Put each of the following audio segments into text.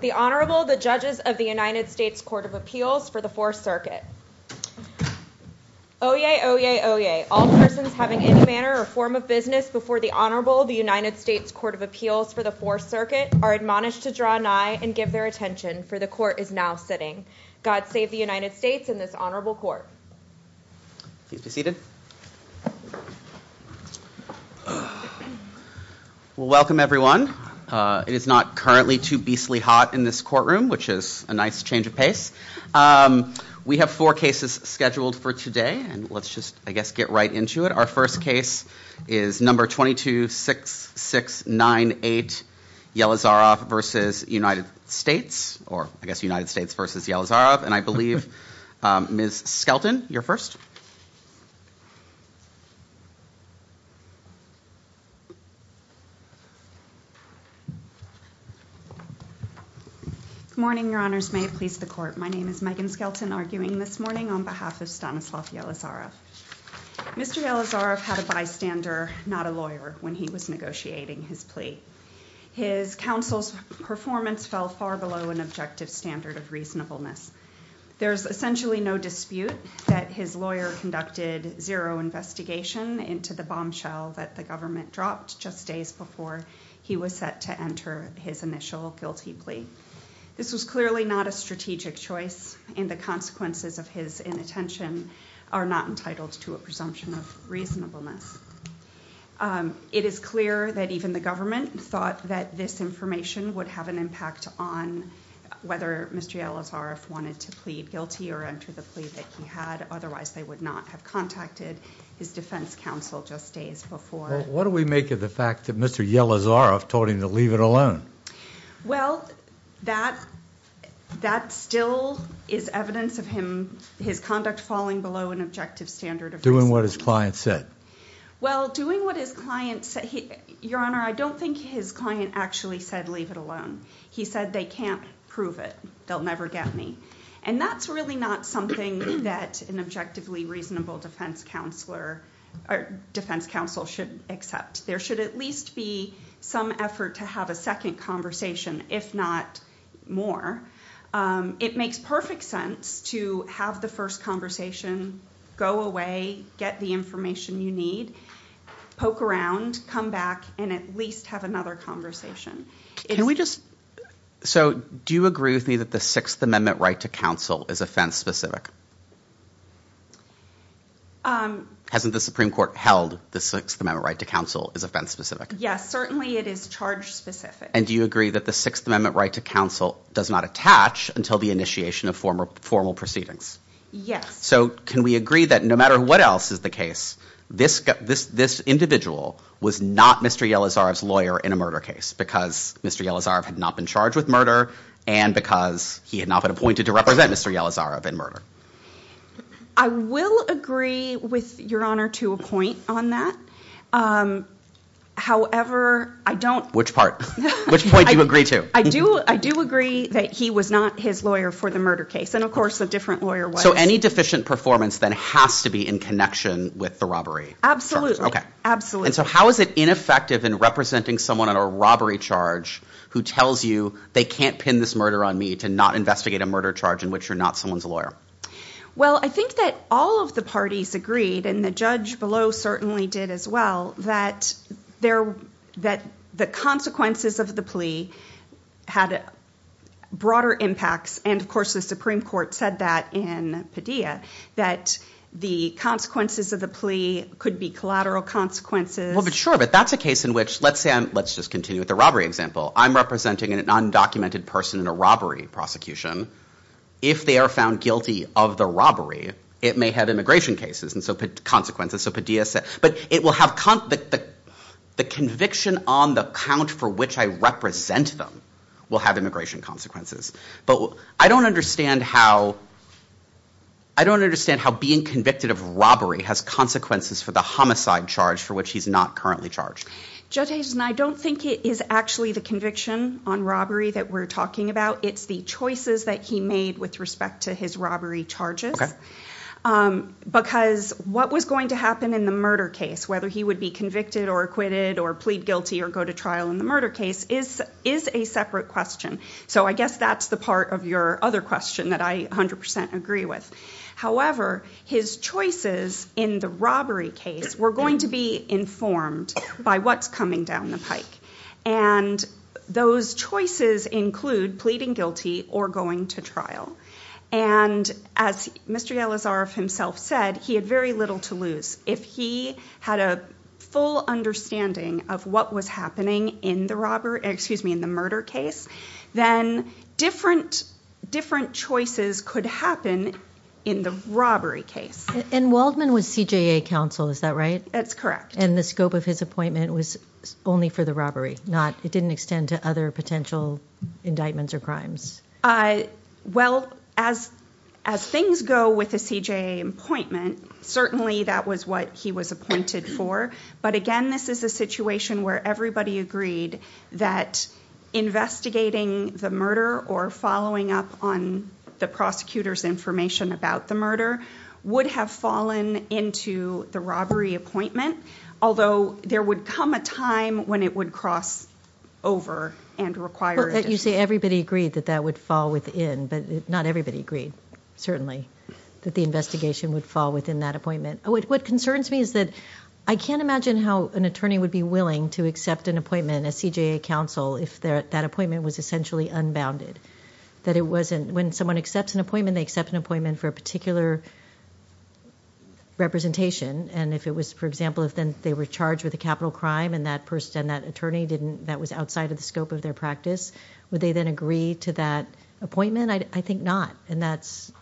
The Honorable, the Judges of the United States Court of Appeals for the Fourth Circuit. Oyez, oyez, oyez, all persons having any manner or form of business before the Honorable, the United States Court of Appeals for the Fourth Circuit, are admonished to draw nigh and give their attention, for the Court is now sitting. God save the United States and this Honorable Court. Please be seated. Well, welcome, everyone. It is not currently too beastly hot in this courtroom, which is a nice change of pace. We have four cases scheduled for today, and let's just, I guess, get right into it. Our first case is number 226698, Yelizarov v. United States, or I guess United States v. Yelizarov. And I believe Ms. Skelton, you're first. Good morning, Your Honors. May it please the Court. My name is Megan Skelton, arguing this morning on behalf of Stanislav Yelizarov. Mr. Yelizarov had a bystander, not a lawyer, when he was negotiating his plea. His counsel's performance fell far below an objective standard of reasonableness. There's essentially no dispute that his lawyer conducted zero investigation into the bombshell that the government dropped just days before he was set to enter his initial guilty plea. This was clearly not a strategic choice, and the consequences of his inattention are not entitled to a presumption of reasonableness. It is clear that even the government thought that this information would have an impact on whether Mr. Yelizarov wanted to plead guilty or enter the plea that he had. Otherwise, they would not have contacted his defense counsel just days before. Well, what do we make of the fact that Mr. Yelizarov told him to leave it alone? Well, that still is evidence of his conduct falling below an objective standard of reasonableness. Doing what his client said. Well, doing what his client said. Your Honor, I don't think his client actually said leave it alone. He said they can't prove it. They'll never get me. And that's really not something that an objectively reasonable defense counsel should accept. There should at least be some effort to have a second conversation, if not more. It makes perfect sense to have the first conversation, go away, get the information you need, poke around, come back, and at least have another conversation. So do you agree with me that the Sixth Amendment right to counsel is offense-specific? Hasn't the Supreme Court held the Sixth Amendment right to counsel is offense-specific? Yes, certainly it is charge-specific. And do you agree that the Sixth Amendment right to counsel does not attach until the initiation of formal proceedings? Yes. So can we agree that no matter what else is the case, this individual was not Mr. Yelizarov's lawyer in a murder case because Mr. Yelizarov had not been charged with murder and because he had not been appointed to represent Mr. Yelizarov in murder? I will agree with Your Honor to a point on that. However, I don't... Which part? Which point do you agree to? I do agree that he was not his lawyer for the murder case, and of course a different lawyer was. So any deficient performance then has to be in connection with the robbery? Absolutely. And so how is it ineffective in representing someone on a robbery charge who tells you they can't pin this murder on me to not investigate a murder charge in which you're not someone's lawyer? Well, I think that all of the parties agreed, and the judge below certainly did as well, that the consequences of the plea had broader impacts, and of course the Supreme Court said that in Padilla, that the consequences of the plea could be collateral consequences. Well, sure, but that's a case in which... Let's just continue with the robbery example. I'm representing an undocumented person in a robbery prosecution. If they are found guilty of the robbery, it may have immigration consequences. But the conviction on the count for which I represent them will have immigration consequences. But I don't understand how being convicted of robbery has consequences for the homicide charge for which he's not currently charged. Judge Hazen, I don't think it is actually the conviction on robbery that we're talking about. It's the choices that he made with respect to his robbery charges. Because what was going to happen in the murder case, whether he would be convicted or acquitted, or plead guilty or go to trial in the murder case, is a separate question. So I guess that's the part of your other question that I 100% agree with. However, his choices in the robbery case were going to be informed by what's coming down the pike. And those choices include pleading guilty or going to trial. And as Mr. Yalazarov himself said, he had very little to lose. If he had a full understanding of what was happening in the murder case, then different choices could happen in the robbery case. And Waldman was CJA counsel, is that right? That's correct. And the scope of his appointment was only for the robbery? It didn't extend to other potential indictments or crimes? Well, as things go with the CJA appointment, certainly that was what he was appointed for. But, again, this is a situation where everybody agreed that investigating the murder or following up on the prosecutor's information about the murder would have fallen into the robbery appointment. Although there would come a time when it would cross over and require addition. You say everybody agreed that that would fall within, but not everybody agreed, certainly, that the investigation would fall within that appointment. What concerns me is that I can't imagine how an attorney would be willing to accept an appointment as CJA counsel if that appointment was essentially unbounded. When someone accepts an appointment, they accept an appointment for a particular representation. For example, if they were charged with a capital crime and that attorney was outside of the scope of their practice, would they then agree to that appointment? I think not. And that's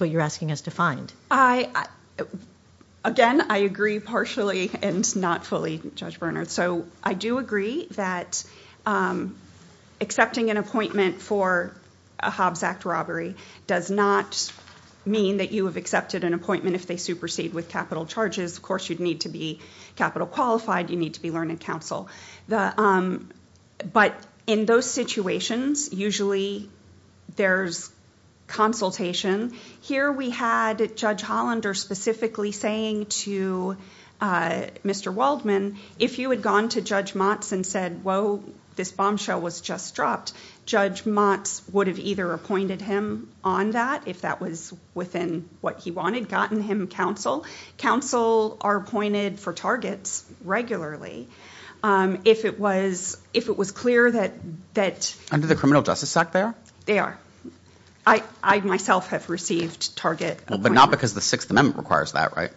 what you're asking us to find. Again, I agree partially and not fully, Judge Bernhardt. I do agree that accepting an appointment for a Hobbs Act robbery does not mean that you have accepted an appointment if they supersede with capital charges. Of course, you'd need to be capital qualified. You'd need to be learned counsel. But in those situations, usually there's consultation. Here we had Judge Hollander specifically saying to Mr. Waldman, if you had gone to Judge Motz and said, whoa, this bombshell was just dropped, Judge Motz would have either appointed him on that if that was within what he wanted, gotten him counsel. Counsel are appointed for targets regularly. If it was clear that... Under the criminal justice act, they are? They are. I myself have received target appointments. But not because the Sixth Amendment requires that, right?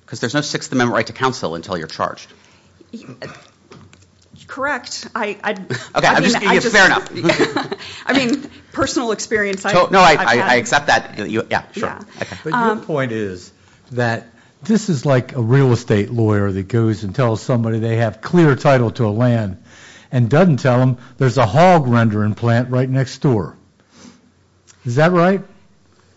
Because there's no Sixth Amendment right to counsel until you're charged. Correct. Fair enough. I mean, personal experience. No, I accept that. Yeah, sure. But your point is that this is like a real estate lawyer that goes and tells somebody they have clear title to a land and doesn't tell them there's a hog rendering plant right next door. Is that right?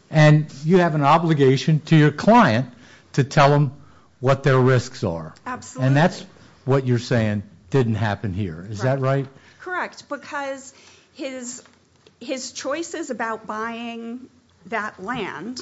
And you have an obligation to your client to tell them what their risks are. Absolutely. And that's what you're saying didn't happen here. Is that right? Correct. Because his choices about buying that land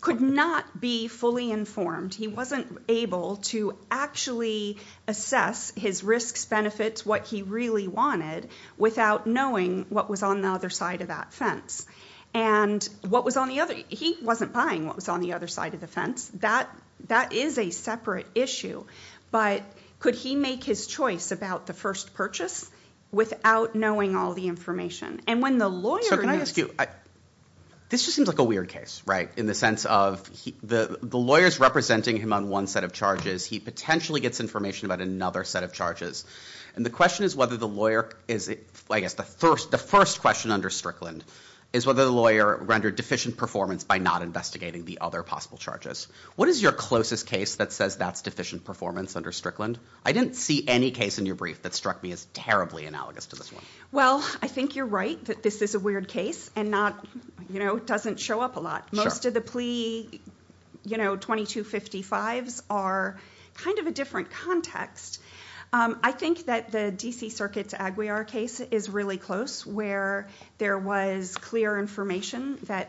could not be fully informed. He wasn't able to actually assess his risks, benefits, what he really wanted without knowing what was on the other side of that fence. And what was on the other... He wasn't buying what was on the other side of the fence. That is a separate issue. But could he make his choice about the first purchase without knowing all the information? And when the lawyer... So can I ask you... This just seems like a weird case, right? In the sense of the lawyer's representing him on one set of charges. He potentially gets information about another set of charges. And the question is whether the lawyer... I guess the first question under Strickland is whether the lawyer rendered deficient performance by not investigating the other possible charges. What is your closest case that says that's deficient performance under Strickland? I didn't see any case in your brief that struck me as terribly analogous to this one. Well, I think you're right that this is a weird case and doesn't show up a lot. Most of the plea 2255s are kind of a different context. I think that the D.C. Circuit's Aguiar case is really close where there was clear information that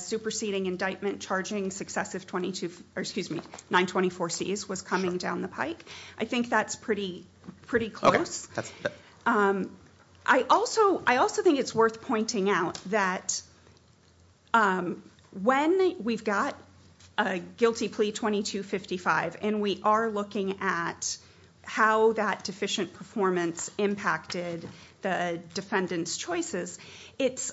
superseding indictment charging successive 924Cs was coming down the pike. I think that's pretty close. I also think it's worth pointing out that when we've got a guilty plea 2255 and we are looking at how that deficient performance impacted the defendant's choices, it's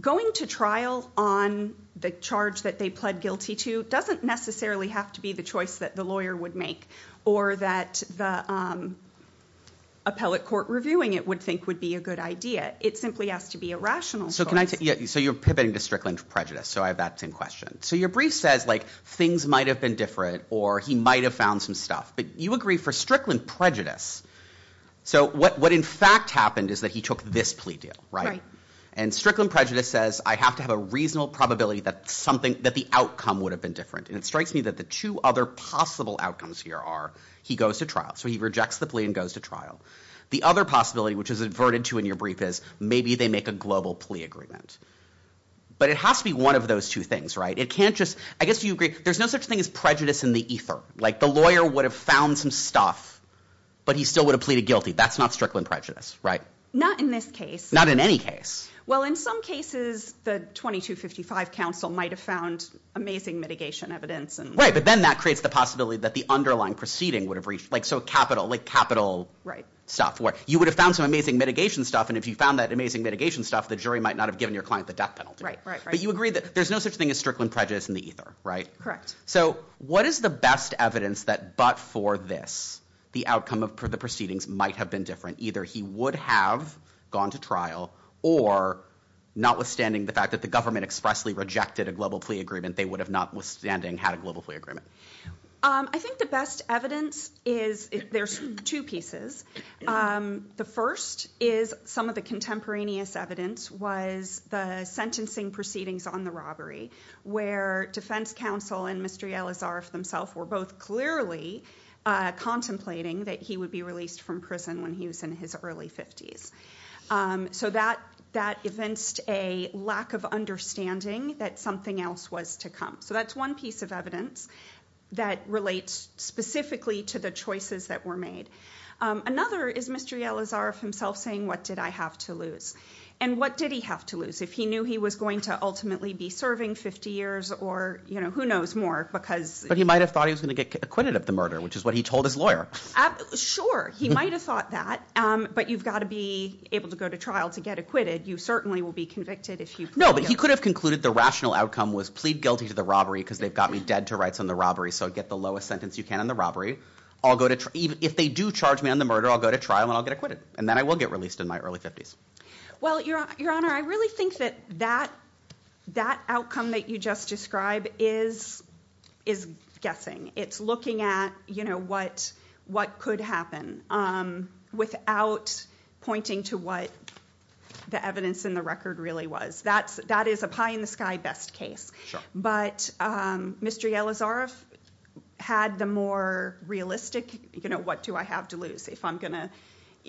going to trial on the charge that they pled guilty to doesn't necessarily have to be the choice that the lawyer would make or that the appellate court reviewing it would think would be a good idea. It simply has to be a rational choice. So you're pivoting to Strickland prejudice, so I have that same question. So your brief says things might have been different or he might have found some stuff, but you agree for Strickland prejudice. So what in fact happened is that he took this plea deal, right? And Strickland prejudice says I have to have a reasonable probability that the outcome would have been different. And it strikes me that the two other possible outcomes here are he goes to trial. So he rejects the plea and goes to trial. The other possibility, which is adverted to in your brief, is maybe they make a global plea agreement. But it has to be one of those two things, right? I guess you agree there's no such thing as prejudice in the ether. Like the lawyer would have found some stuff, but he still would have pleaded guilty. That's not Strickland prejudice, right? Not in this case. Not in any case. Well, in some cases, the 2255 counsel might have found amazing mitigation evidence. Right, but then that creates the possibility that the underlying proceeding would have reached. Like so capital, like capital stuff where you would have found some amazing mitigation stuff. And if you found that amazing mitigation stuff, the jury might not have given your client the death penalty. Right, right, right. But you agree that there's no such thing as Strickland prejudice in the ether, right? Correct. So what is the best evidence that but for this, the outcome of the proceedings might have been different? Either he would have gone to trial or notwithstanding the fact that the government expressly rejected a global plea agreement, they would have notwithstanding had a global plea agreement. I think the best evidence is, there's two pieces. The first is some of the contemporaneous evidence was the sentencing proceedings on the robbery where defense counsel and Mr. Yelazarov himself were both clearly contemplating that he would be released from prison when he was in his early 50s. So that evinced a lack of understanding that something else was to come. So that's one piece of evidence that relates specifically to the choices that were made. Another is Mr. Yelazarov himself saying, what did I have to lose? And what did he have to lose? If he knew he was going to ultimately be serving 50 years or who knows more because But he might have thought he was going to get acquitted of the murder, which is what he told his lawyer. Sure, he might have thought that. But you've got to be able to go to trial to get acquitted. You certainly will be convicted if you No, but he could have concluded the rational outcome was plead guilty to the robbery because they've got me dead to rights on the robbery. So get the lowest sentence you can on the robbery. If they do charge me on the murder, I'll go to trial and I'll get acquitted. And then I will get released in my early 50s. Well, Your Honor, I really think that that outcome that you just described is guessing. It's looking at what could happen without pointing to what the evidence in the record really was. That is a pie in the sky best case. But Mr. Yelazarov had the more realistic, what do I have to lose if I'm going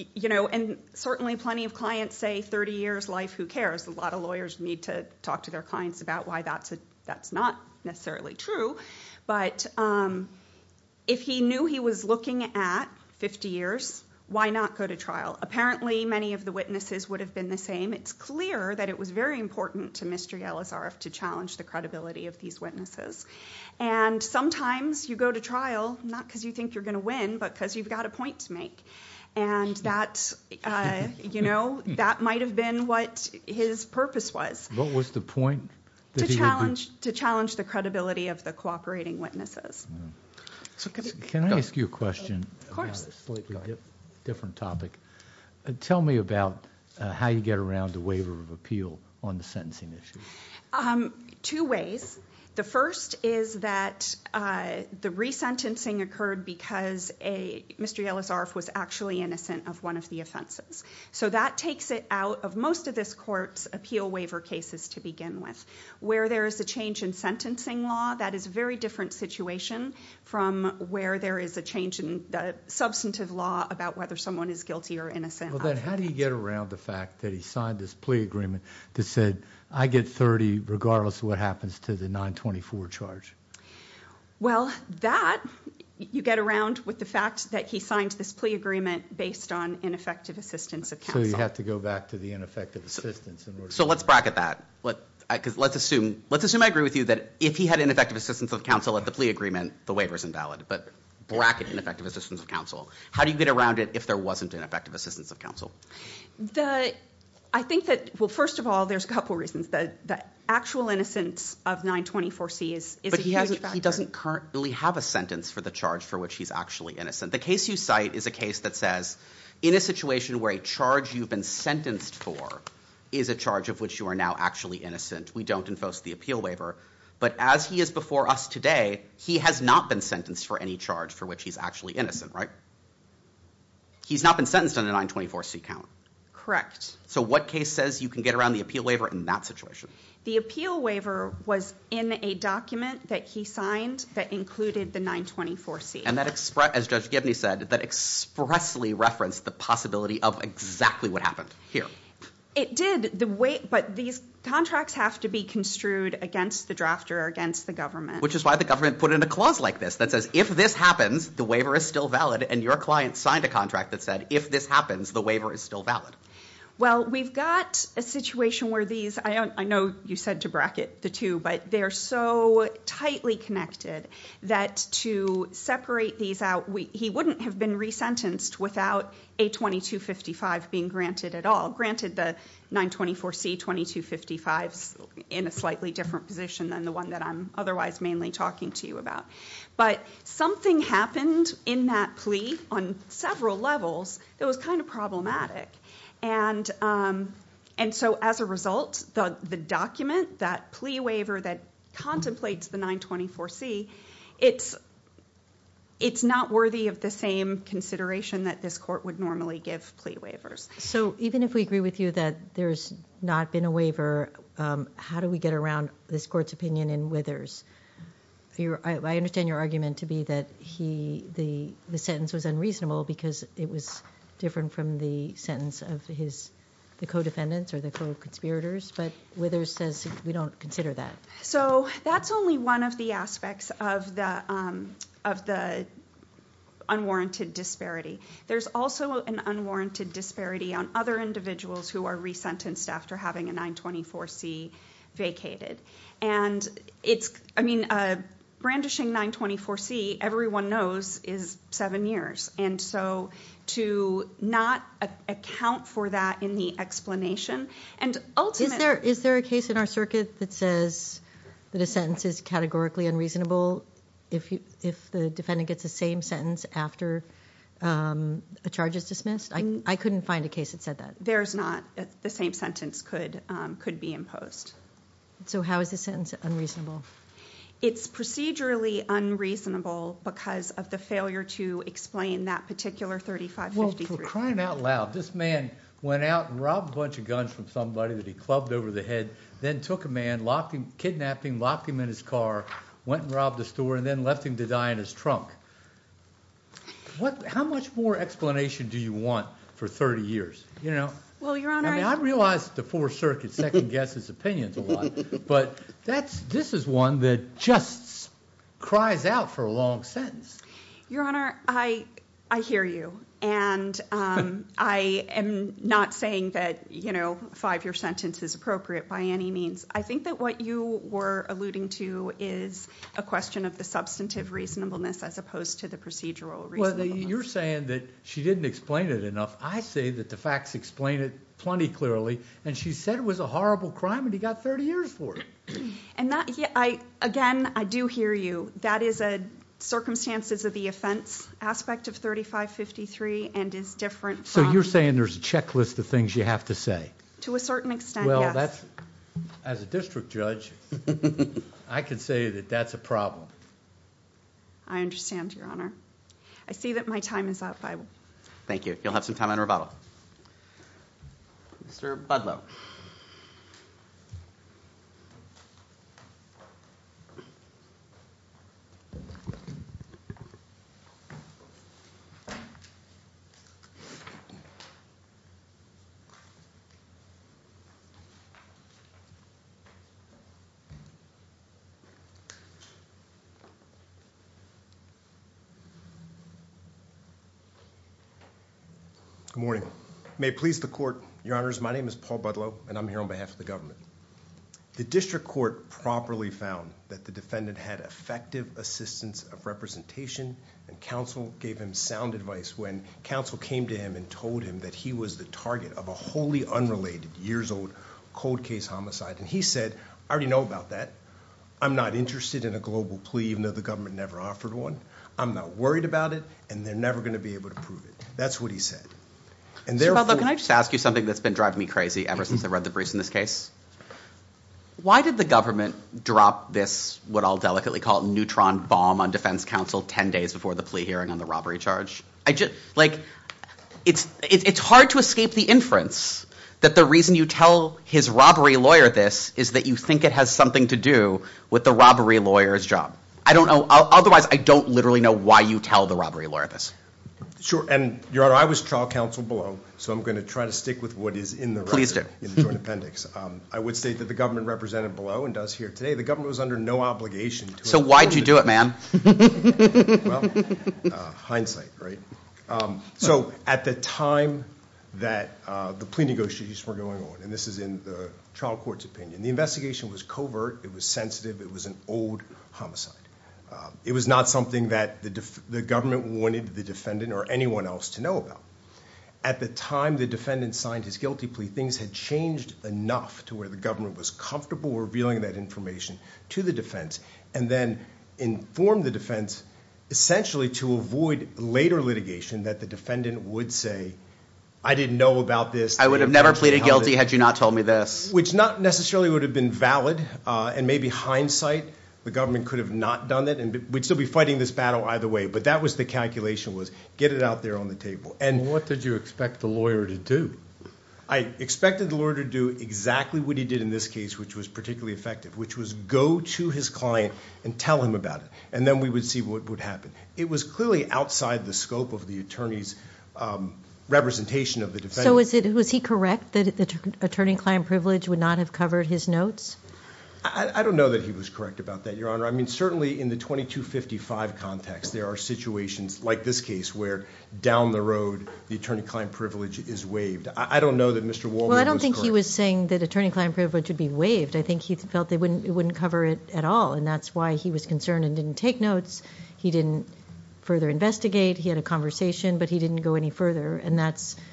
to And certainly plenty of clients say 30 years life, who cares? A lot of lawyers need to talk to their clients about why that's not necessarily true. But if he knew he was looking at 50 years, why not go to trial? Apparently, many of the witnesses would have been the same. It's clear that it was very important to Mr. Yelazarov to challenge the credibility of these witnesses. And sometimes you go to trial, not because you think you're going to win, but because you've got a point to make. And that might have been what his purpose was. What was the point? To challenge the credibility of the cooperating witnesses. Can I ask you a question about a slightly different topic? Tell me about how you get around the waiver of appeal on the sentencing issue. Two ways. The first is that the resentencing occurred because Mr. Yelazarov was actually innocent of one of the offenses. So that takes it out of most of this court's appeal waiver cases to begin with. Where there is a change in sentencing law, that is a very different situation from where there is a change in the substantive law about whether someone is guilty or innocent. Well, then how do you get around the fact that he signed this plea agreement that said I get 30 regardless of what happens to the 924 charge? Well, that you get around with the fact that he signed this plea agreement based on ineffective assistance of counsel. So you have to go back to the ineffective assistance. So let's bracket that. Let's assume I agree with you that if he had ineffective assistance of counsel at the plea agreement, the waiver is invalid. But bracket ineffective assistance of counsel. How do you get around it if there wasn't an effective assistance of counsel? I think that, well, first of all, there's a couple reasons. The actual innocence of 924C is a huge factor. But he doesn't currently have a sentence for the charge for which he's actually innocent. The case you cite is a case that says in a situation where a charge you've been sentenced for is a charge of which you are now actually innocent, we don't impose the appeal waiver. But as he is before us today, he has not been sentenced for any charge for which he's actually innocent, right? He's not been sentenced on a 924C count. So what case says you can get around the appeal waiver in that situation? The appeal waiver was in a document that he signed that included the 924C. And that, as Judge Gibney said, that expressly referenced the possibility of exactly what happened here. It did, but these contracts have to be construed against the drafter or against the government. Which is why the government put in a clause like this that says, if this happens, the waiver is still valid. And your client signed a contract that said, if this happens, the waiver is still valid. Well, we've got a situation where these, I know you said to bracket the two, but they're so tightly connected that to separate these out, he wouldn't have been resentenced without a 2255 being granted at all. Granted, the 924C 2255's in a slightly different position than the one that I'm otherwise mainly talking to you about. But something happened in that plea on several levels that was kind of problematic. And so as a result, the document, that plea waiver that contemplates the 924C, it's not worthy of the same consideration that this court would normally give plea waivers. So even if we agree with you that there's not been a waiver, how do we get around this court's opinion in Withers? I understand your argument to be that the sentence was unreasonable because it was different from the sentence of the co-defendants or the co-conspirators. But Withers says we don't consider that. So that's only one of the aspects of the unwarranted disparity. There's also an unwarranted disparity on other individuals who are resentenced after having a 924C vacated. And it's, I mean, brandishing 924C, everyone knows, is seven years. And so to not account for that in the explanation and ultimately- A charge is dismissed? I couldn't find a case that said that. There's not. The same sentence could be imposed. So how is the sentence unreasonable? It's procedurally unreasonable because of the failure to explain that particular 3553. Well, for crying out loud, this man went out and robbed a bunch of guns from somebody that he clubbed over the head, then took a man, kidnapped him, locked him in his car, went and robbed a store, and then left him to die in his trunk. How much more explanation do you want for 30 years? Well, Your Honor- I realize the Fourth Circuit second-guesses opinions a lot, but this is one that just cries out for a long sentence. Your Honor, I hear you. And I am not saying that a five-year sentence is appropriate by any means. I think that what you were alluding to is a question of the substantive reasonableness as opposed to the procedural reasonableness. Well, you're saying that she didn't explain it enough. I say that the facts explain it plenty clearly, and she said it was a horrible crime and he got 30 years for it. Again, I do hear you. That is a circumstances of the offense aspect of 3553 and is different from- So you're saying there's a checklist of things you have to say? To a certain extent, yes. As a district judge, I can say that that's a problem. I understand, Your Honor. I see that my time is up. Thank you. You'll have some time on rebuttal. Mr. Budlow. Good morning. May it please the court, Your Honors, my name is Paul Budlow, and I'm here on behalf of the government. The district court properly found that the defendant had effective assistance of representation, and counsel gave him sound advice when counsel came to him and told him that he was the target of a wholly unrelated years-old cold case homicide. And he said, I already know about that. I'm not interested in a global plea even though the government never offered one. I'm not worried about it, and they're never going to be able to prove it. That's what he said. Mr. Budlow, can I just ask you something that's been driving me crazy ever since I read the briefs in this case? Why did the government drop this, what I'll delicately call, neutron bomb on defense counsel 10 days before the plea hearing on the robbery charge? Like, it's hard to escape the inference that the reason you tell his robbery lawyer this is that you think it has something to do with the robbery lawyer's job. I don't know. Otherwise, I don't literally know why you tell the robbery lawyer this. Sure. And, Your Honor, I was trial counsel below, so I'm going to try to stick with what is in the record. Interesting. In the joint appendix. I would state that the government represented below and does here today. The government was under no obligation. So why did you do it, ma'am? Well, hindsight, right? So at the time that the plea negotiations were going on, and this is in the trial court's opinion, the investigation was covert. It was sensitive. It was an old homicide. It was not something that the government wanted the defendant or anyone else to know about. At the time the defendant signed his guilty plea, things had changed enough to where the government was comfortable revealing that information to the defense and then informed the defense essentially to avoid later litigation that the defendant would say, I didn't know about this. I would have never pleaded guilty had you not told me this. Which not necessarily would have been valid, and maybe hindsight, the government could have not done it. We'd still be fighting this battle either way, but that was the calculation was get it out there on the table. And what did you expect the lawyer to do? I expected the lawyer to do exactly what he did in this case, which was particularly effective, which was go to his client and tell him about it, and then we would see what would happen. It was clearly outside the scope of the attorney's representation of the defendant. So was he correct that the attorney-client privilege would not have covered his notes? I don't know that he was correct about that, Your Honor. I mean, certainly in the 2255 context, there are situations like this case where down the road, the attorney-client privilege is waived. I don't know that Mr. Warburg was correct. Well, I don't think he was saying that attorney-client privilege would be waived. I think he felt it wouldn't cover it at all, and that's why he was concerned and didn't take notes. He didn't further investigate. He had a conversation, but he didn't go any further, and that's –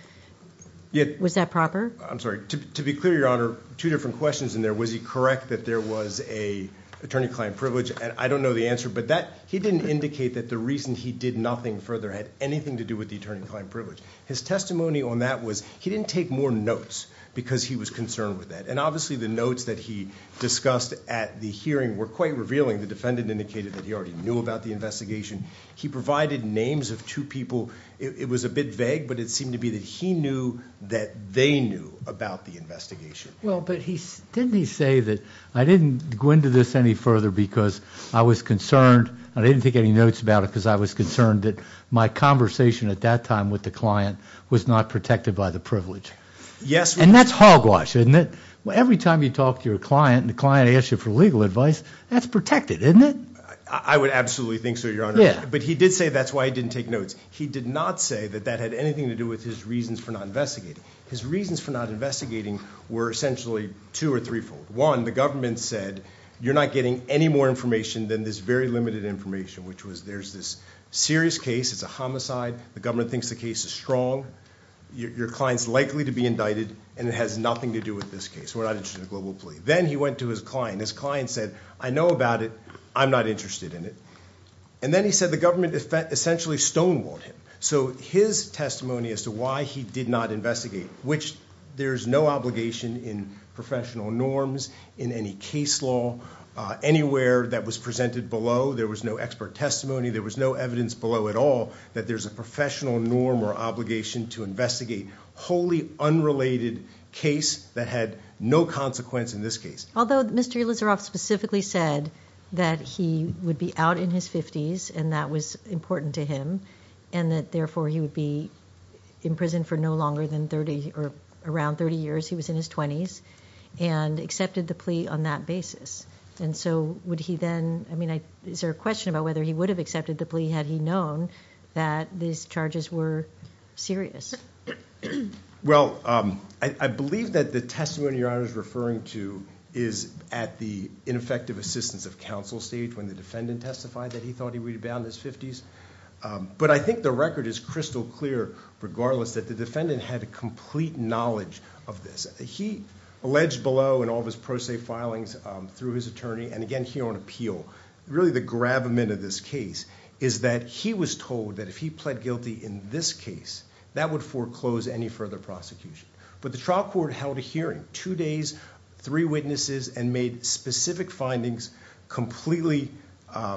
was that proper? I'm sorry. To be clear, Your Honor, two different questions in there. Was he correct that there was an attorney-client privilege? I don't know the answer, but that – he didn't indicate that the reason he did nothing further had anything to do with the attorney-client privilege. His testimony on that was he didn't take more notes because he was concerned with that, and obviously the notes that he discussed at the hearing were quite revealing. The defendant indicated that he already knew about the investigation. He provided names of two people. It was a bit vague, but it seemed to be that he knew that they knew about the investigation. Well, but he – didn't he say that I didn't go into this any further because I was concerned – I didn't take any notes about it because I was concerned that my conversation at that time with the client was not protected by the privilege? Yes. And that's hogwash, isn't it? Every time you talk to your client and the client asks you for legal advice, that's protected, isn't it? I would absolutely think so, Your Honor. Yeah. But he did say that's why he didn't take notes. He did not say that that had anything to do with his reasons for not investigating. His reasons for not investigating were essentially two- or threefold. One, the government said you're not getting any more information than this very limited information, which was there's this serious case. It's a homicide. The government thinks the case is strong. Your client is likely to be indicted, and it has nothing to do with this case. We're not interested in a global plea. Then he went to his client. His client said, I know about it. I'm not interested in it. And then he said the government essentially stonewalled him. So his testimony as to why he did not investigate, which there's no obligation in professional norms, in any case law, anywhere that was presented below. There was no expert testimony. There was no evidence below at all that there's a professional norm or obligation to investigate wholly unrelated case that had no consequence in this case. Although Mr. Elizaroff specifically said that he would be out in his 50s and that was important to him and that, therefore, he would be in prison for no longer than 30 or around 30 years. He was in his 20s and accepted the plea on that basis. And so would he then I mean, is there a question about whether he would have accepted the plea had he known that these charges were serious? Well, I believe that the testimony you're referring to is at the ineffective assistance of counsel stage when the defendant testified that he thought he rebounded his 50s. But I think the record is crystal clear, regardless, that the defendant had a complete knowledge of this. He alleged below and all of his pro se filings through his attorney. And again, here on appeal, really the gravamen of this case is that he was told that if he pled guilty in this case, that would foreclose any further prosecution. But the trial court held a hearing two days, three witnesses and made specific findings, completely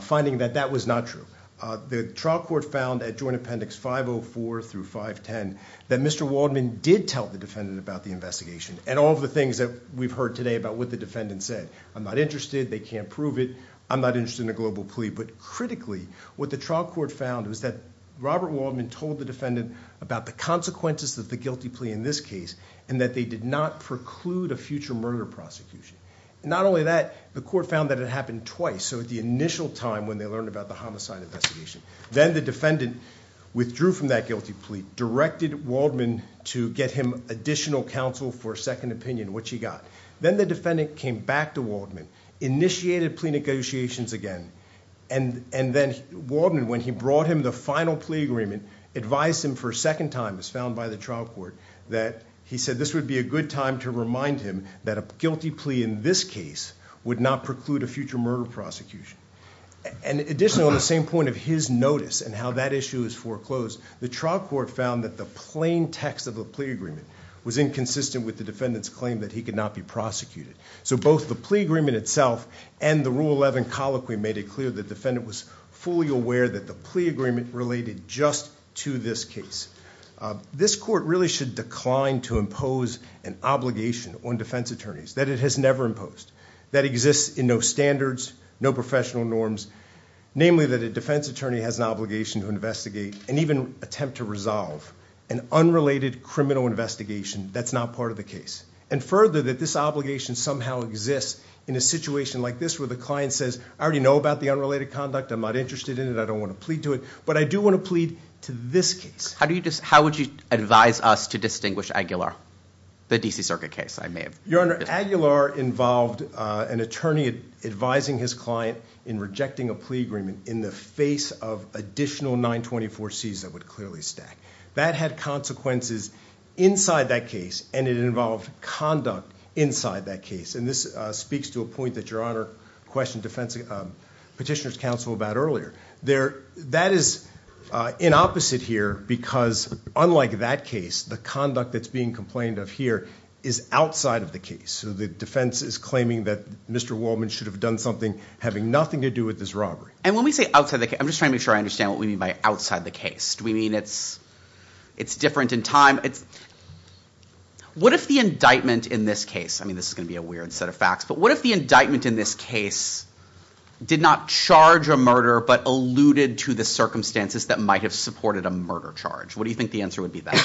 finding that that was not true. The trial court found at Joint Appendix 504 through 510 that Mr. Waldman did tell the defendant about the investigation and all of the things that we've heard today about what the defendant said. I'm not interested. They can't prove it. I'm not interested in a global plea. But critically, what the trial court found was that Robert Waldman told the defendant about the consequences of the guilty plea in this case and that they did not preclude a future murder prosecution. Not only that, the court found that it happened twice. So at the initial time when they learned about the homicide investigation, then the defendant withdrew from that guilty plea, directed Waldman to get him additional counsel for a second opinion, which he got. Then the defendant came back to Waldman, initiated plea negotiations again. And then Waldman, when he brought him the final plea agreement, advised him for a second time, as found by the trial court, that he said this would be a good time to remind him that a guilty plea in this case would not preclude a future murder prosecution. And additionally, on the same point of his notice and how that issue is foreclosed, the trial court found that the plain text of the plea agreement was inconsistent with the defendant's claim that he could not be prosecuted. So both the plea agreement itself and the Rule 11 colloquy made it clear the defendant was fully aware that the plea agreement related just to this case. This court really should decline to impose an obligation on defense attorneys that it has never imposed, that exists in no standards, no professional norms. Namely, that a defense attorney has an obligation to investigate and even attempt to resolve an unrelated criminal investigation that's not part of the case. And further, that this obligation somehow exists in a situation like this where the client says, I already know about the unrelated conduct. I'm not interested in it. I don't want to plead to it. But I do want to plead to this case. How would you advise us to distinguish Aguilar, the DC Circuit case? Your Honor, Aguilar involved an attorney advising his client in rejecting a plea agreement in the face of additional 924Cs that would clearly stack. That had consequences inside that case, and it involved conduct inside that case. And this speaks to a point that Your Honor questioned petitioner's counsel about earlier. That is inopposite here because unlike that case, the conduct that's being complained of here is outside of the case. So the defense is claiming that Mr. Wolman should have done something having nothing to do with this robbery. And when we say outside the case, I'm just trying to make sure I understand what we mean by outside the case. Do we mean it's different in time? What if the indictment in this case, I mean, this is going to be a weird set of facts, but what if the indictment in this case did not charge a murder but alluded to the circumstances that might have supported a murder charge? What do you think the answer would be then?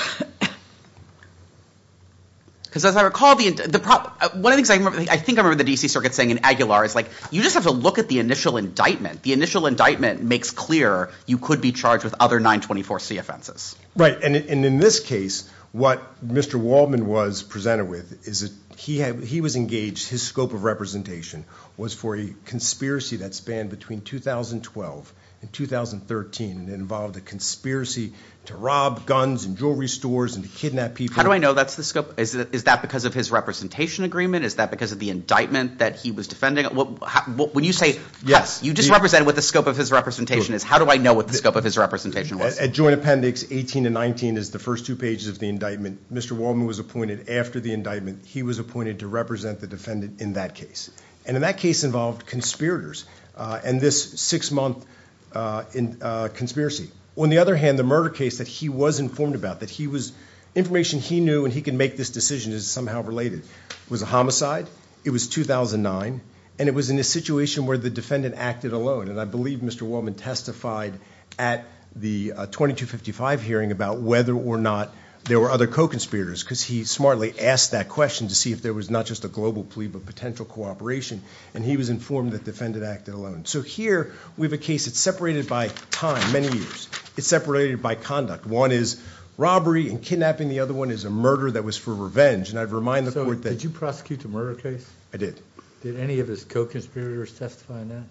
Because as I recall, one of the things I think I remember the DC Circuit saying in Aguilar is like, you just have to look at the initial indictment. The initial indictment makes clear you could be charged with other 924C offenses. Right, and in this case, what Mr. Wolman was presented with is that he was engaged, his scope of representation was for a conspiracy that spanned between 2012 and 2013. It involved a conspiracy to rob guns and jewelry stores and to kidnap people. How do I know that's the scope? Is that because of his representation agreement? Is that because of the indictment that he was defending? When you say, yes, you just represented what the scope of his representation is, how do I know what the scope of his representation was? At joint appendix 18 and 19 is the first two pages of the indictment. Mr. Wolman was appointed after the indictment. He was appointed to represent the defendant in that case. And in that case involved conspirators and this six-month conspiracy. On the other hand, the murder case that he was informed about, that he was – information he knew and he could make this decision is somehow related, was a homicide. It was 2009, and it was in a situation where the defendant acted alone. And I believe Mr. Wolman testified at the 2255 hearing about whether or not there were other co-conspirators because he smartly asked that question to see if there was not just a global plea but potential cooperation. And he was informed that the defendant acted alone. So here we have a case that's separated by time, many years. It's separated by conduct. One is robbery and kidnapping. The other one is a murder that was for revenge. And I'd remind the court that – So did you prosecute the murder case? I did. Did any of his co-conspirators testify in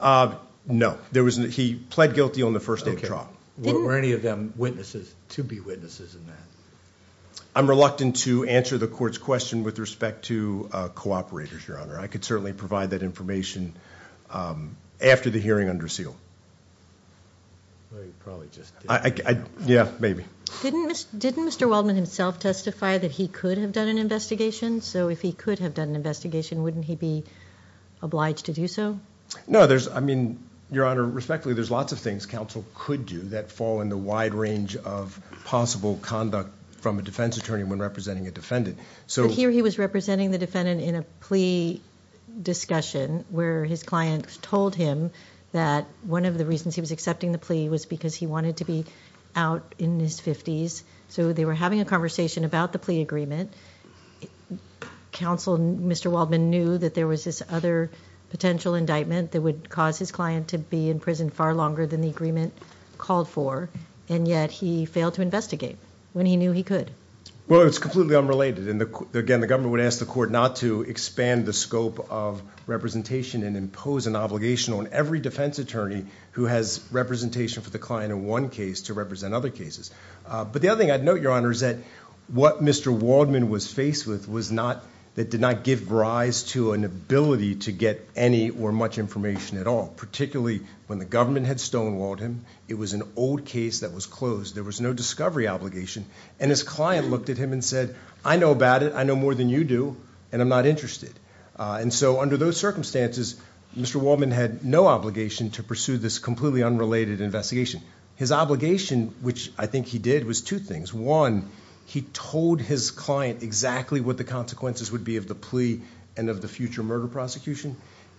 that? No. He pled guilty on the first day of trial. Were any of them witnesses, to be witnesses in that? I'm reluctant to answer the court's question with respect to cooperators, Your Honor. I could certainly provide that information after the hearing under seal. Well, you probably just didn't. Yeah, maybe. Didn't Mr. Waldman himself testify that he could have done an investigation? So if he could have done an investigation, wouldn't he be obliged to do so? No. I mean, Your Honor, respectfully, there's lots of things counsel could do that fall in the wide range of possible conduct from a defense attorney when representing a defendant. But here he was representing the defendant in a plea discussion where his client told him that one of the reasons he was accepting the plea was because he wanted to be out in his fifties. So they were having a conversation about the plea agreement. Counsel, Mr. Waldman, knew that there was this other potential indictment that would cause his client to be in prison far longer than the agreement called for, and yet he failed to investigate when he knew he could. Well, it's completely unrelated. Again, the government would ask the court not to expand the scope of representation and impose an obligation on every defense attorney who has representation for the client in one case to represent other cases. But the other thing I'd note, Your Honor, is that what Mr. Waldman was faced with did not give rise to an ability to get any or much information at all, particularly when the government had stonewalled him. It was an old case that was closed. There was no discovery obligation. And his client looked at him and said, I know about it, I know more than you do, and I'm not interested. And so under those circumstances, Mr. Waldman had no obligation to pursue this completely unrelated investigation. His obligation, which I think he did, was two things. One, he told his client exactly what the consequences would be of the plea and of the future murder prosecution,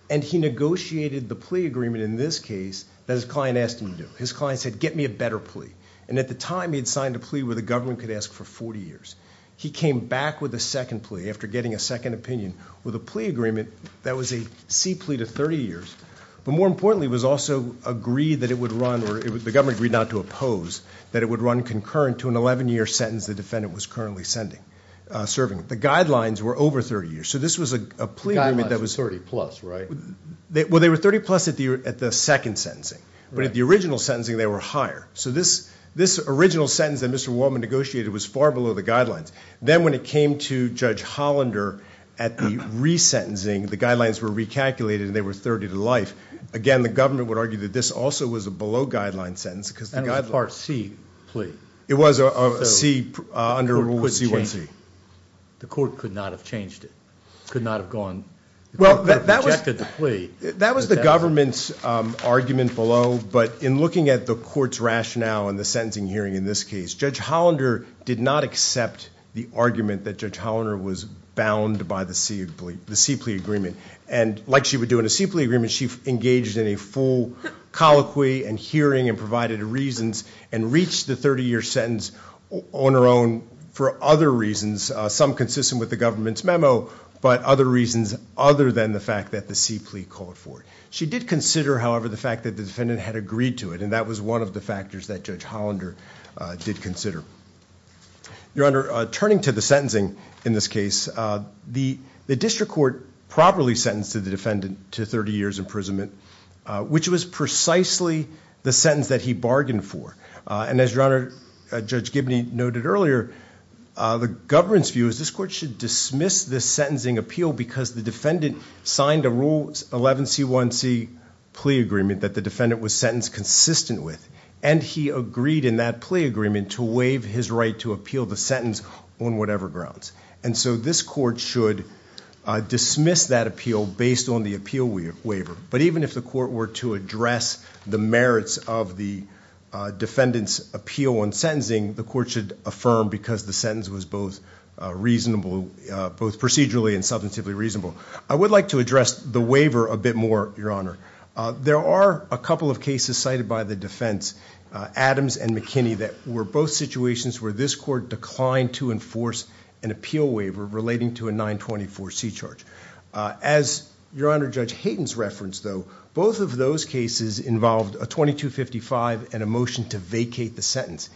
and he negotiated the plea agreement in this case that his client asked him to do. His client said, Get me a better plea. And at the time, he had signed a plea where the government could ask for 40 years. He came back with a second plea after getting a second opinion with a plea agreement that was a C plea to 30 years. But more importantly, it was also agreed that it would run, or the government agreed not to oppose, that it would run concurrent to an 11-year sentence the defendant was currently serving. The guidelines were over 30 years. So this was a plea agreement that was 30 plus, right? Well, they were 30 plus at the second sentencing. But at the original sentencing, they were higher. So this original sentence that Mr. Wallman negotiated was far below the guidelines. Then when it came to Judge Hollander at the resentencing, the guidelines were recalculated and they were 30 to life. Again, the government would argue that this also was a below-guideline sentence. And it was a Part C plea. It was a C under Rule C-1C. The court could not have changed it, could not have gone, the court could have rejected the plea. That was the government's argument below, but in looking at the court's rationale in the sentencing hearing in this case, Judge Hollander did not accept the argument that Judge Hollander was bound by the C plea agreement. And like she would do in a C plea agreement, she engaged in a full colloquy and hearing and provided reasons and reached the 30-year sentence on her own for other reasons, some consistent with the government's memo, but other reasons other than the fact that the C plea called for it. She did consider, however, the fact that the defendant had agreed to it, and that was one of the factors that Judge Hollander did consider. Your Honor, turning to the sentencing in this case, the district court properly sentenced the defendant to 30 years' imprisonment, which was precisely the sentence that he bargained for. And as Your Honor, Judge Gibney noted earlier, the government's view is this court should dismiss this sentencing appeal because the defendant signed a Rule 11C1C plea agreement that the defendant was sentenced consistent with, and he agreed in that plea agreement to waive his right to appeal the sentence on whatever grounds. And so this court should dismiss that appeal based on the appeal waiver. But even if the court were to address the merits of the defendant's appeal on sentencing, the court should affirm because the sentence was both procedurally and substantively reasonable. I would like to address the waiver a bit more, Your Honor. There are a couple of cases cited by the defense, Adams and McKinney, that were both situations where this court declined to enforce an appeal waiver relating to a 924C charge. As Your Honor, Judge Hayden's reference, though, both of those cases involved a 2255 and a motion to vacate the sentence.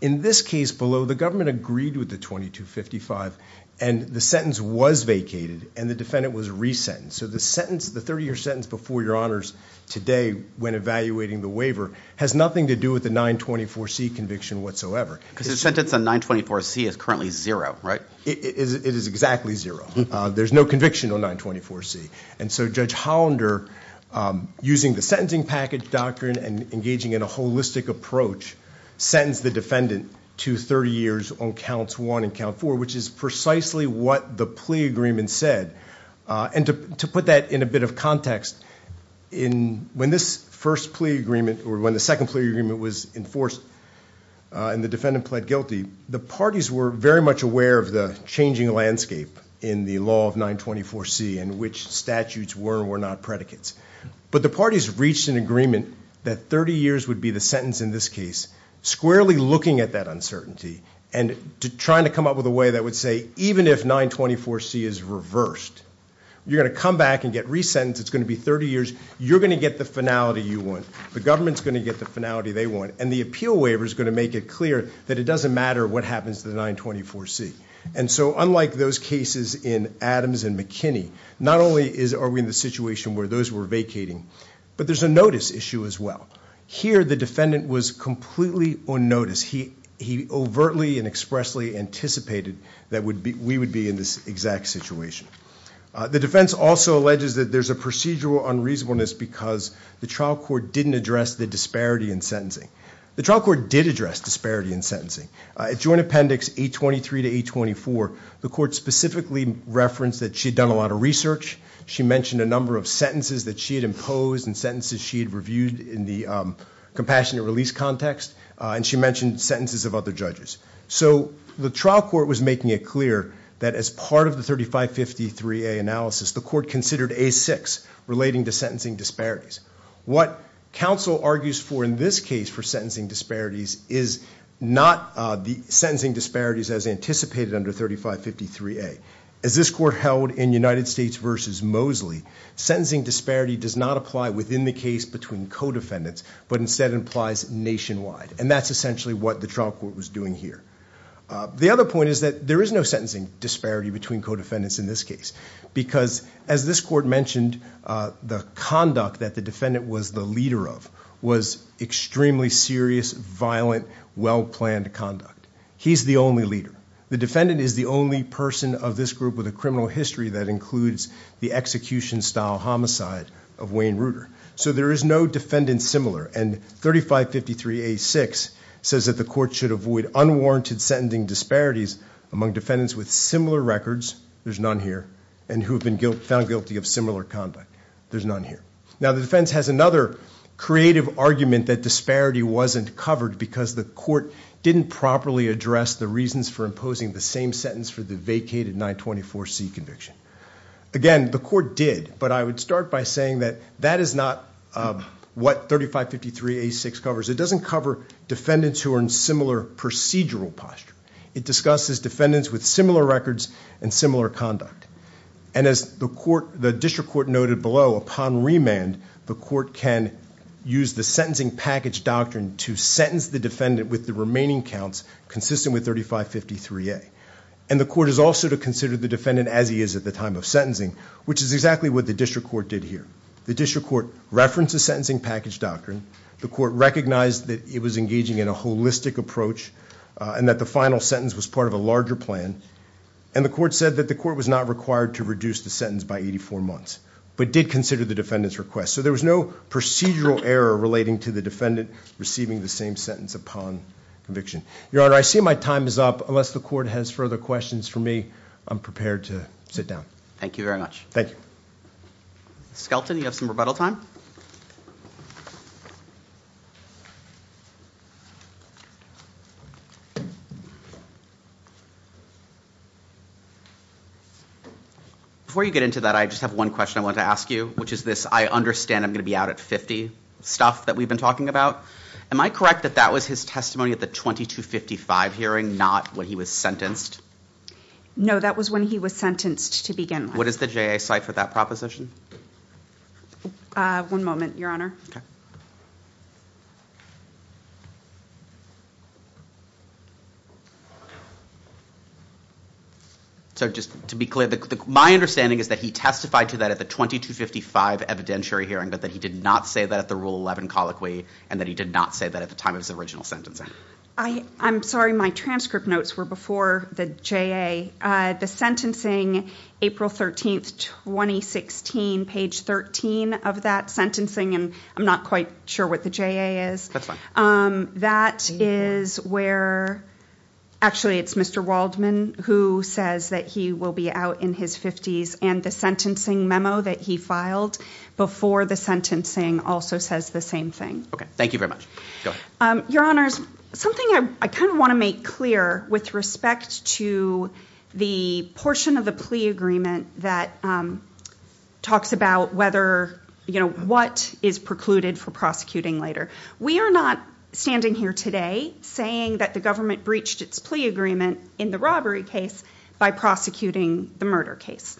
In this case below, the government agreed with the 2255, and the sentence was vacated and the defendant was resentenced. So the sentence, the 30-year sentence before Your Honors today when evaluating the waiver, has nothing to do with the 924C conviction whatsoever. Because the sentence on 924C is currently zero, right? It is exactly zero. There's no conviction on 924C. And so Judge Hollander, using the sentencing package doctrine and engaging in a holistic approach, sentenced the defendant to 30 years on Counts 1 and Count 4, which is precisely what the plea agreement said. And to put that in a bit of context, when this first plea agreement or when the second plea agreement was enforced and the defendant pled guilty, the parties were very much aware of the changing landscape in the law of 924C and which statutes were and were not predicates. But the parties reached an agreement that 30 years would be the sentence in this case, squarely looking at that uncertainty and trying to come up with a way that would say, even if 924C is reversed, you're going to come back and get resentenced. It's going to be 30 years. You're going to get the finality you want. The government's going to get the finality they want. And the appeal waiver is going to make it clear that it doesn't matter what happens to the 924C. And so unlike those cases in Adams and McKinney, not only are we in the situation where those were vacating, but there's a notice issue as well. Here the defendant was completely unnoticed. He overtly and expressly anticipated that we would be in this exact situation. The defense also alleges that there's a procedural unreasonableness because the trial court didn't address the disparity in sentencing. The trial court did address disparity in sentencing. At joint appendix 823 to 824, the court specifically referenced that she had done a lot of research. She mentioned a number of sentences that she had imposed and sentences she had reviewed in the compassionate release context. And she mentioned sentences of other judges. So the trial court was making it clear that as part of the 3553A analysis, the court considered A6 relating to sentencing disparities. What counsel argues for in this case for sentencing disparities is not the sentencing disparities as anticipated under 3553A. As this court held in United States v. Mosley, sentencing disparity does not apply within the case between co-defendants, but instead applies nationwide. And that's essentially what the trial court was doing here. The other point is that there is no sentencing disparity between co-defendants in this case because, as this court mentioned, the conduct that the defendant was the leader of was extremely serious, violent, well-planned conduct. He's the only leader. The defendant is the only person of this group with a criminal history that includes the execution-style homicide of Wayne Reuter. So there is no defendant similar. And 3553A6 says that the court should avoid unwarranted sentencing disparities among defendants with similar records. There's none here. And who have been found guilty of similar conduct. There's none here. Now the defense has another creative argument that disparity wasn't covered because the court didn't properly address the reasons for imposing the same sentence for the vacated 924C conviction. Again, the court did, but I would start by saying that that is not what 3553A6 covers. It doesn't cover defendants who are in similar procedural posture. It discusses defendants with similar records and similar conduct. And as the district court noted below, upon remand, the court can use the sentencing package doctrine to sentence the defendant with the remaining counts consistent with 3553A. And the court is also to consider the defendant as he is at the time of sentencing, which is exactly what the district court did here. The district court referenced the sentencing package doctrine. The court recognized that it was engaging in a holistic approach and that the final sentence was part of a larger plan. And the court said that the court was not required to reduce the sentence by 84 months, but did consider the defendant's request. So there was no procedural error relating to the defendant receiving the same sentence upon conviction. Your Honor, I see my time is up. Unless the court has further questions for me, I'm prepared to sit down. Thank you very much. Thank you. Ms. Skelton, you have some rebuttal time. Before you get into that, I just have one question I wanted to ask you, which is this, I understand I'm going to be out at 50, stuff that we've been talking about. Am I correct that that was his testimony at the 2255 hearing, not when he was sentenced? No, that was when he was sentenced to begin with. What is the JA cite for that proposition? One moment, Your Honor. Okay. So just to be clear, my understanding is that he testified to that at the 2255 evidentiary hearing, but that he did not say that at the Rule 11 colloquy, and that he did not say that at the time of his original sentencing. I'm sorry, my transcript notes were before the JA. The sentencing, April 13th, 2016, page 13 of that sentencing, and I'm not quite sure what the JA is. That's fine. That is where actually it's Mr. Waldman who says that he will be out in his 50s, and the sentencing memo that he filed before the sentencing also says the same thing. Okay. Thank you very much. Go ahead. Your Honors, something I kind of want to make clear with respect to the portion of the plea agreement that talks about whether, you know, what is precluded for prosecuting later. We are not standing here today saying that the government breached its plea agreement in the robbery case by prosecuting the murder case.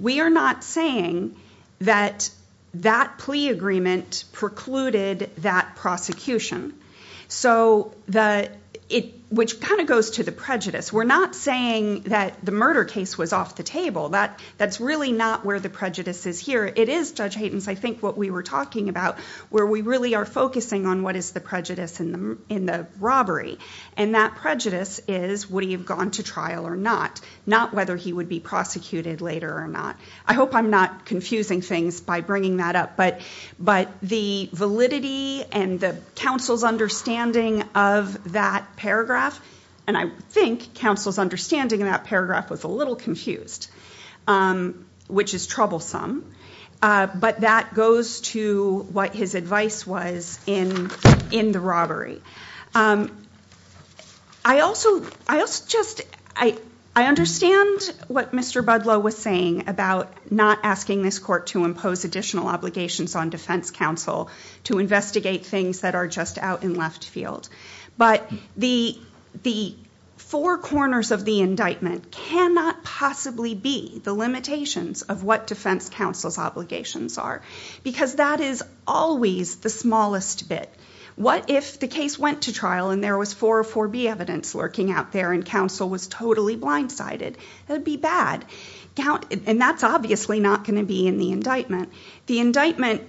We are not saying that that plea agreement precluded that prosecution, which kind of goes to the prejudice. We're not saying that the murder case was off the table. That's really not where the prejudice is here. It is, Judge Haytens, I think what we were talking about, where we really are focusing on what is the prejudice in the robbery, and that prejudice is would he have gone to trial or not, not whether he would be prosecuted later or not. I hope I'm not confusing things by bringing that up, but the validity and the counsel's understanding of that paragraph, and I think counsel's understanding of that paragraph was a little confused, which is troublesome, but that goes to what his advice was in the robbery. I also just, I understand what Mr. Budlow was saying about not asking this court to impose additional obligations on defense counsel to investigate things that are just out in left field, but the four corners of the indictment cannot possibly be the limitations of what defense counsel's obligations are, because that is always the smallest bit. What if the case went to trial and there was 404B evidence lurking out there and counsel was totally blindsided? That would be bad, and that's obviously not going to be in the indictment. The indictment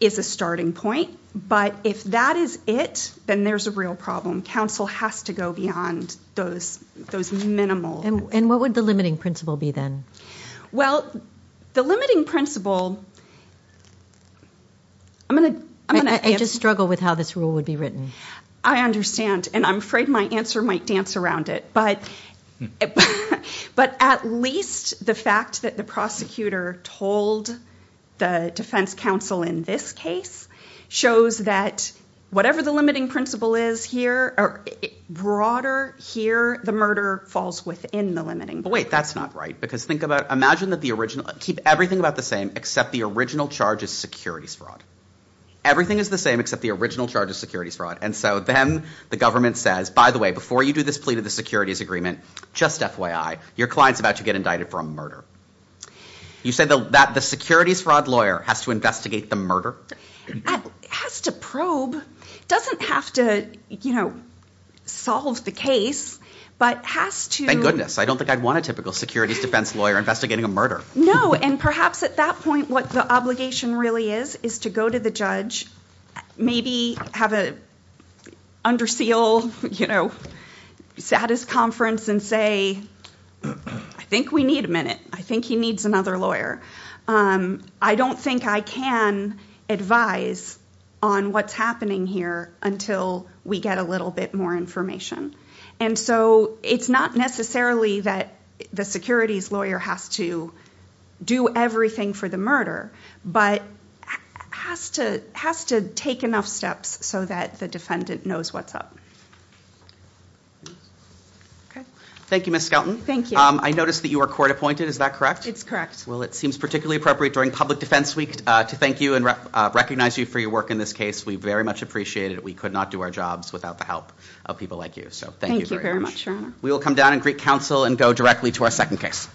is a starting point, but if that is it, then there's a real problem. Counsel has to go beyond those minimal. And what would the limiting principle be then? Well, the limiting principle, I'm going to- I just struggle with how this rule would be written. I understand, and I'm afraid my answer might dance around it, but at least the fact that the prosecutor told the defense counsel in this case shows that whatever the limiting principle is here, broader here, the murder falls within the limiting principle. But wait, that's not right, because imagine that the original- keep everything about the same except the original charge is securities fraud. Everything is the same except the original charge is securities fraud, and so then the government says, by the way, before you do this plea to the securities agreement, just FYI, your client's about to get indicted for a murder. You say that the securities fraud lawyer has to investigate the murder? Has to probe. Doesn't have to solve the case, but has to- Goodness, I don't think I'd want a typical securities defense lawyer investigating a murder. No, and perhaps at that point what the obligation really is is to go to the judge, maybe have an under seal status conference and say, I think we need a minute. I think he needs another lawyer. I don't think I can advise on what's happening here until we get a little bit more information. And so it's not necessarily that the securities lawyer has to do everything for the murder, but has to take enough steps so that the defendant knows what's up. Thank you, Ms. Skelton. Thank you. I noticed that you were court appointed, is that correct? It's correct. Well, it seems particularly appropriate during public defense week to thank you and recognize you for your work in this case. We very much appreciate it. We could not do our jobs without the help of people like you, so thank you very much. Thank you very much, Your Honor. We will come down and greet counsel and go directly to our second case.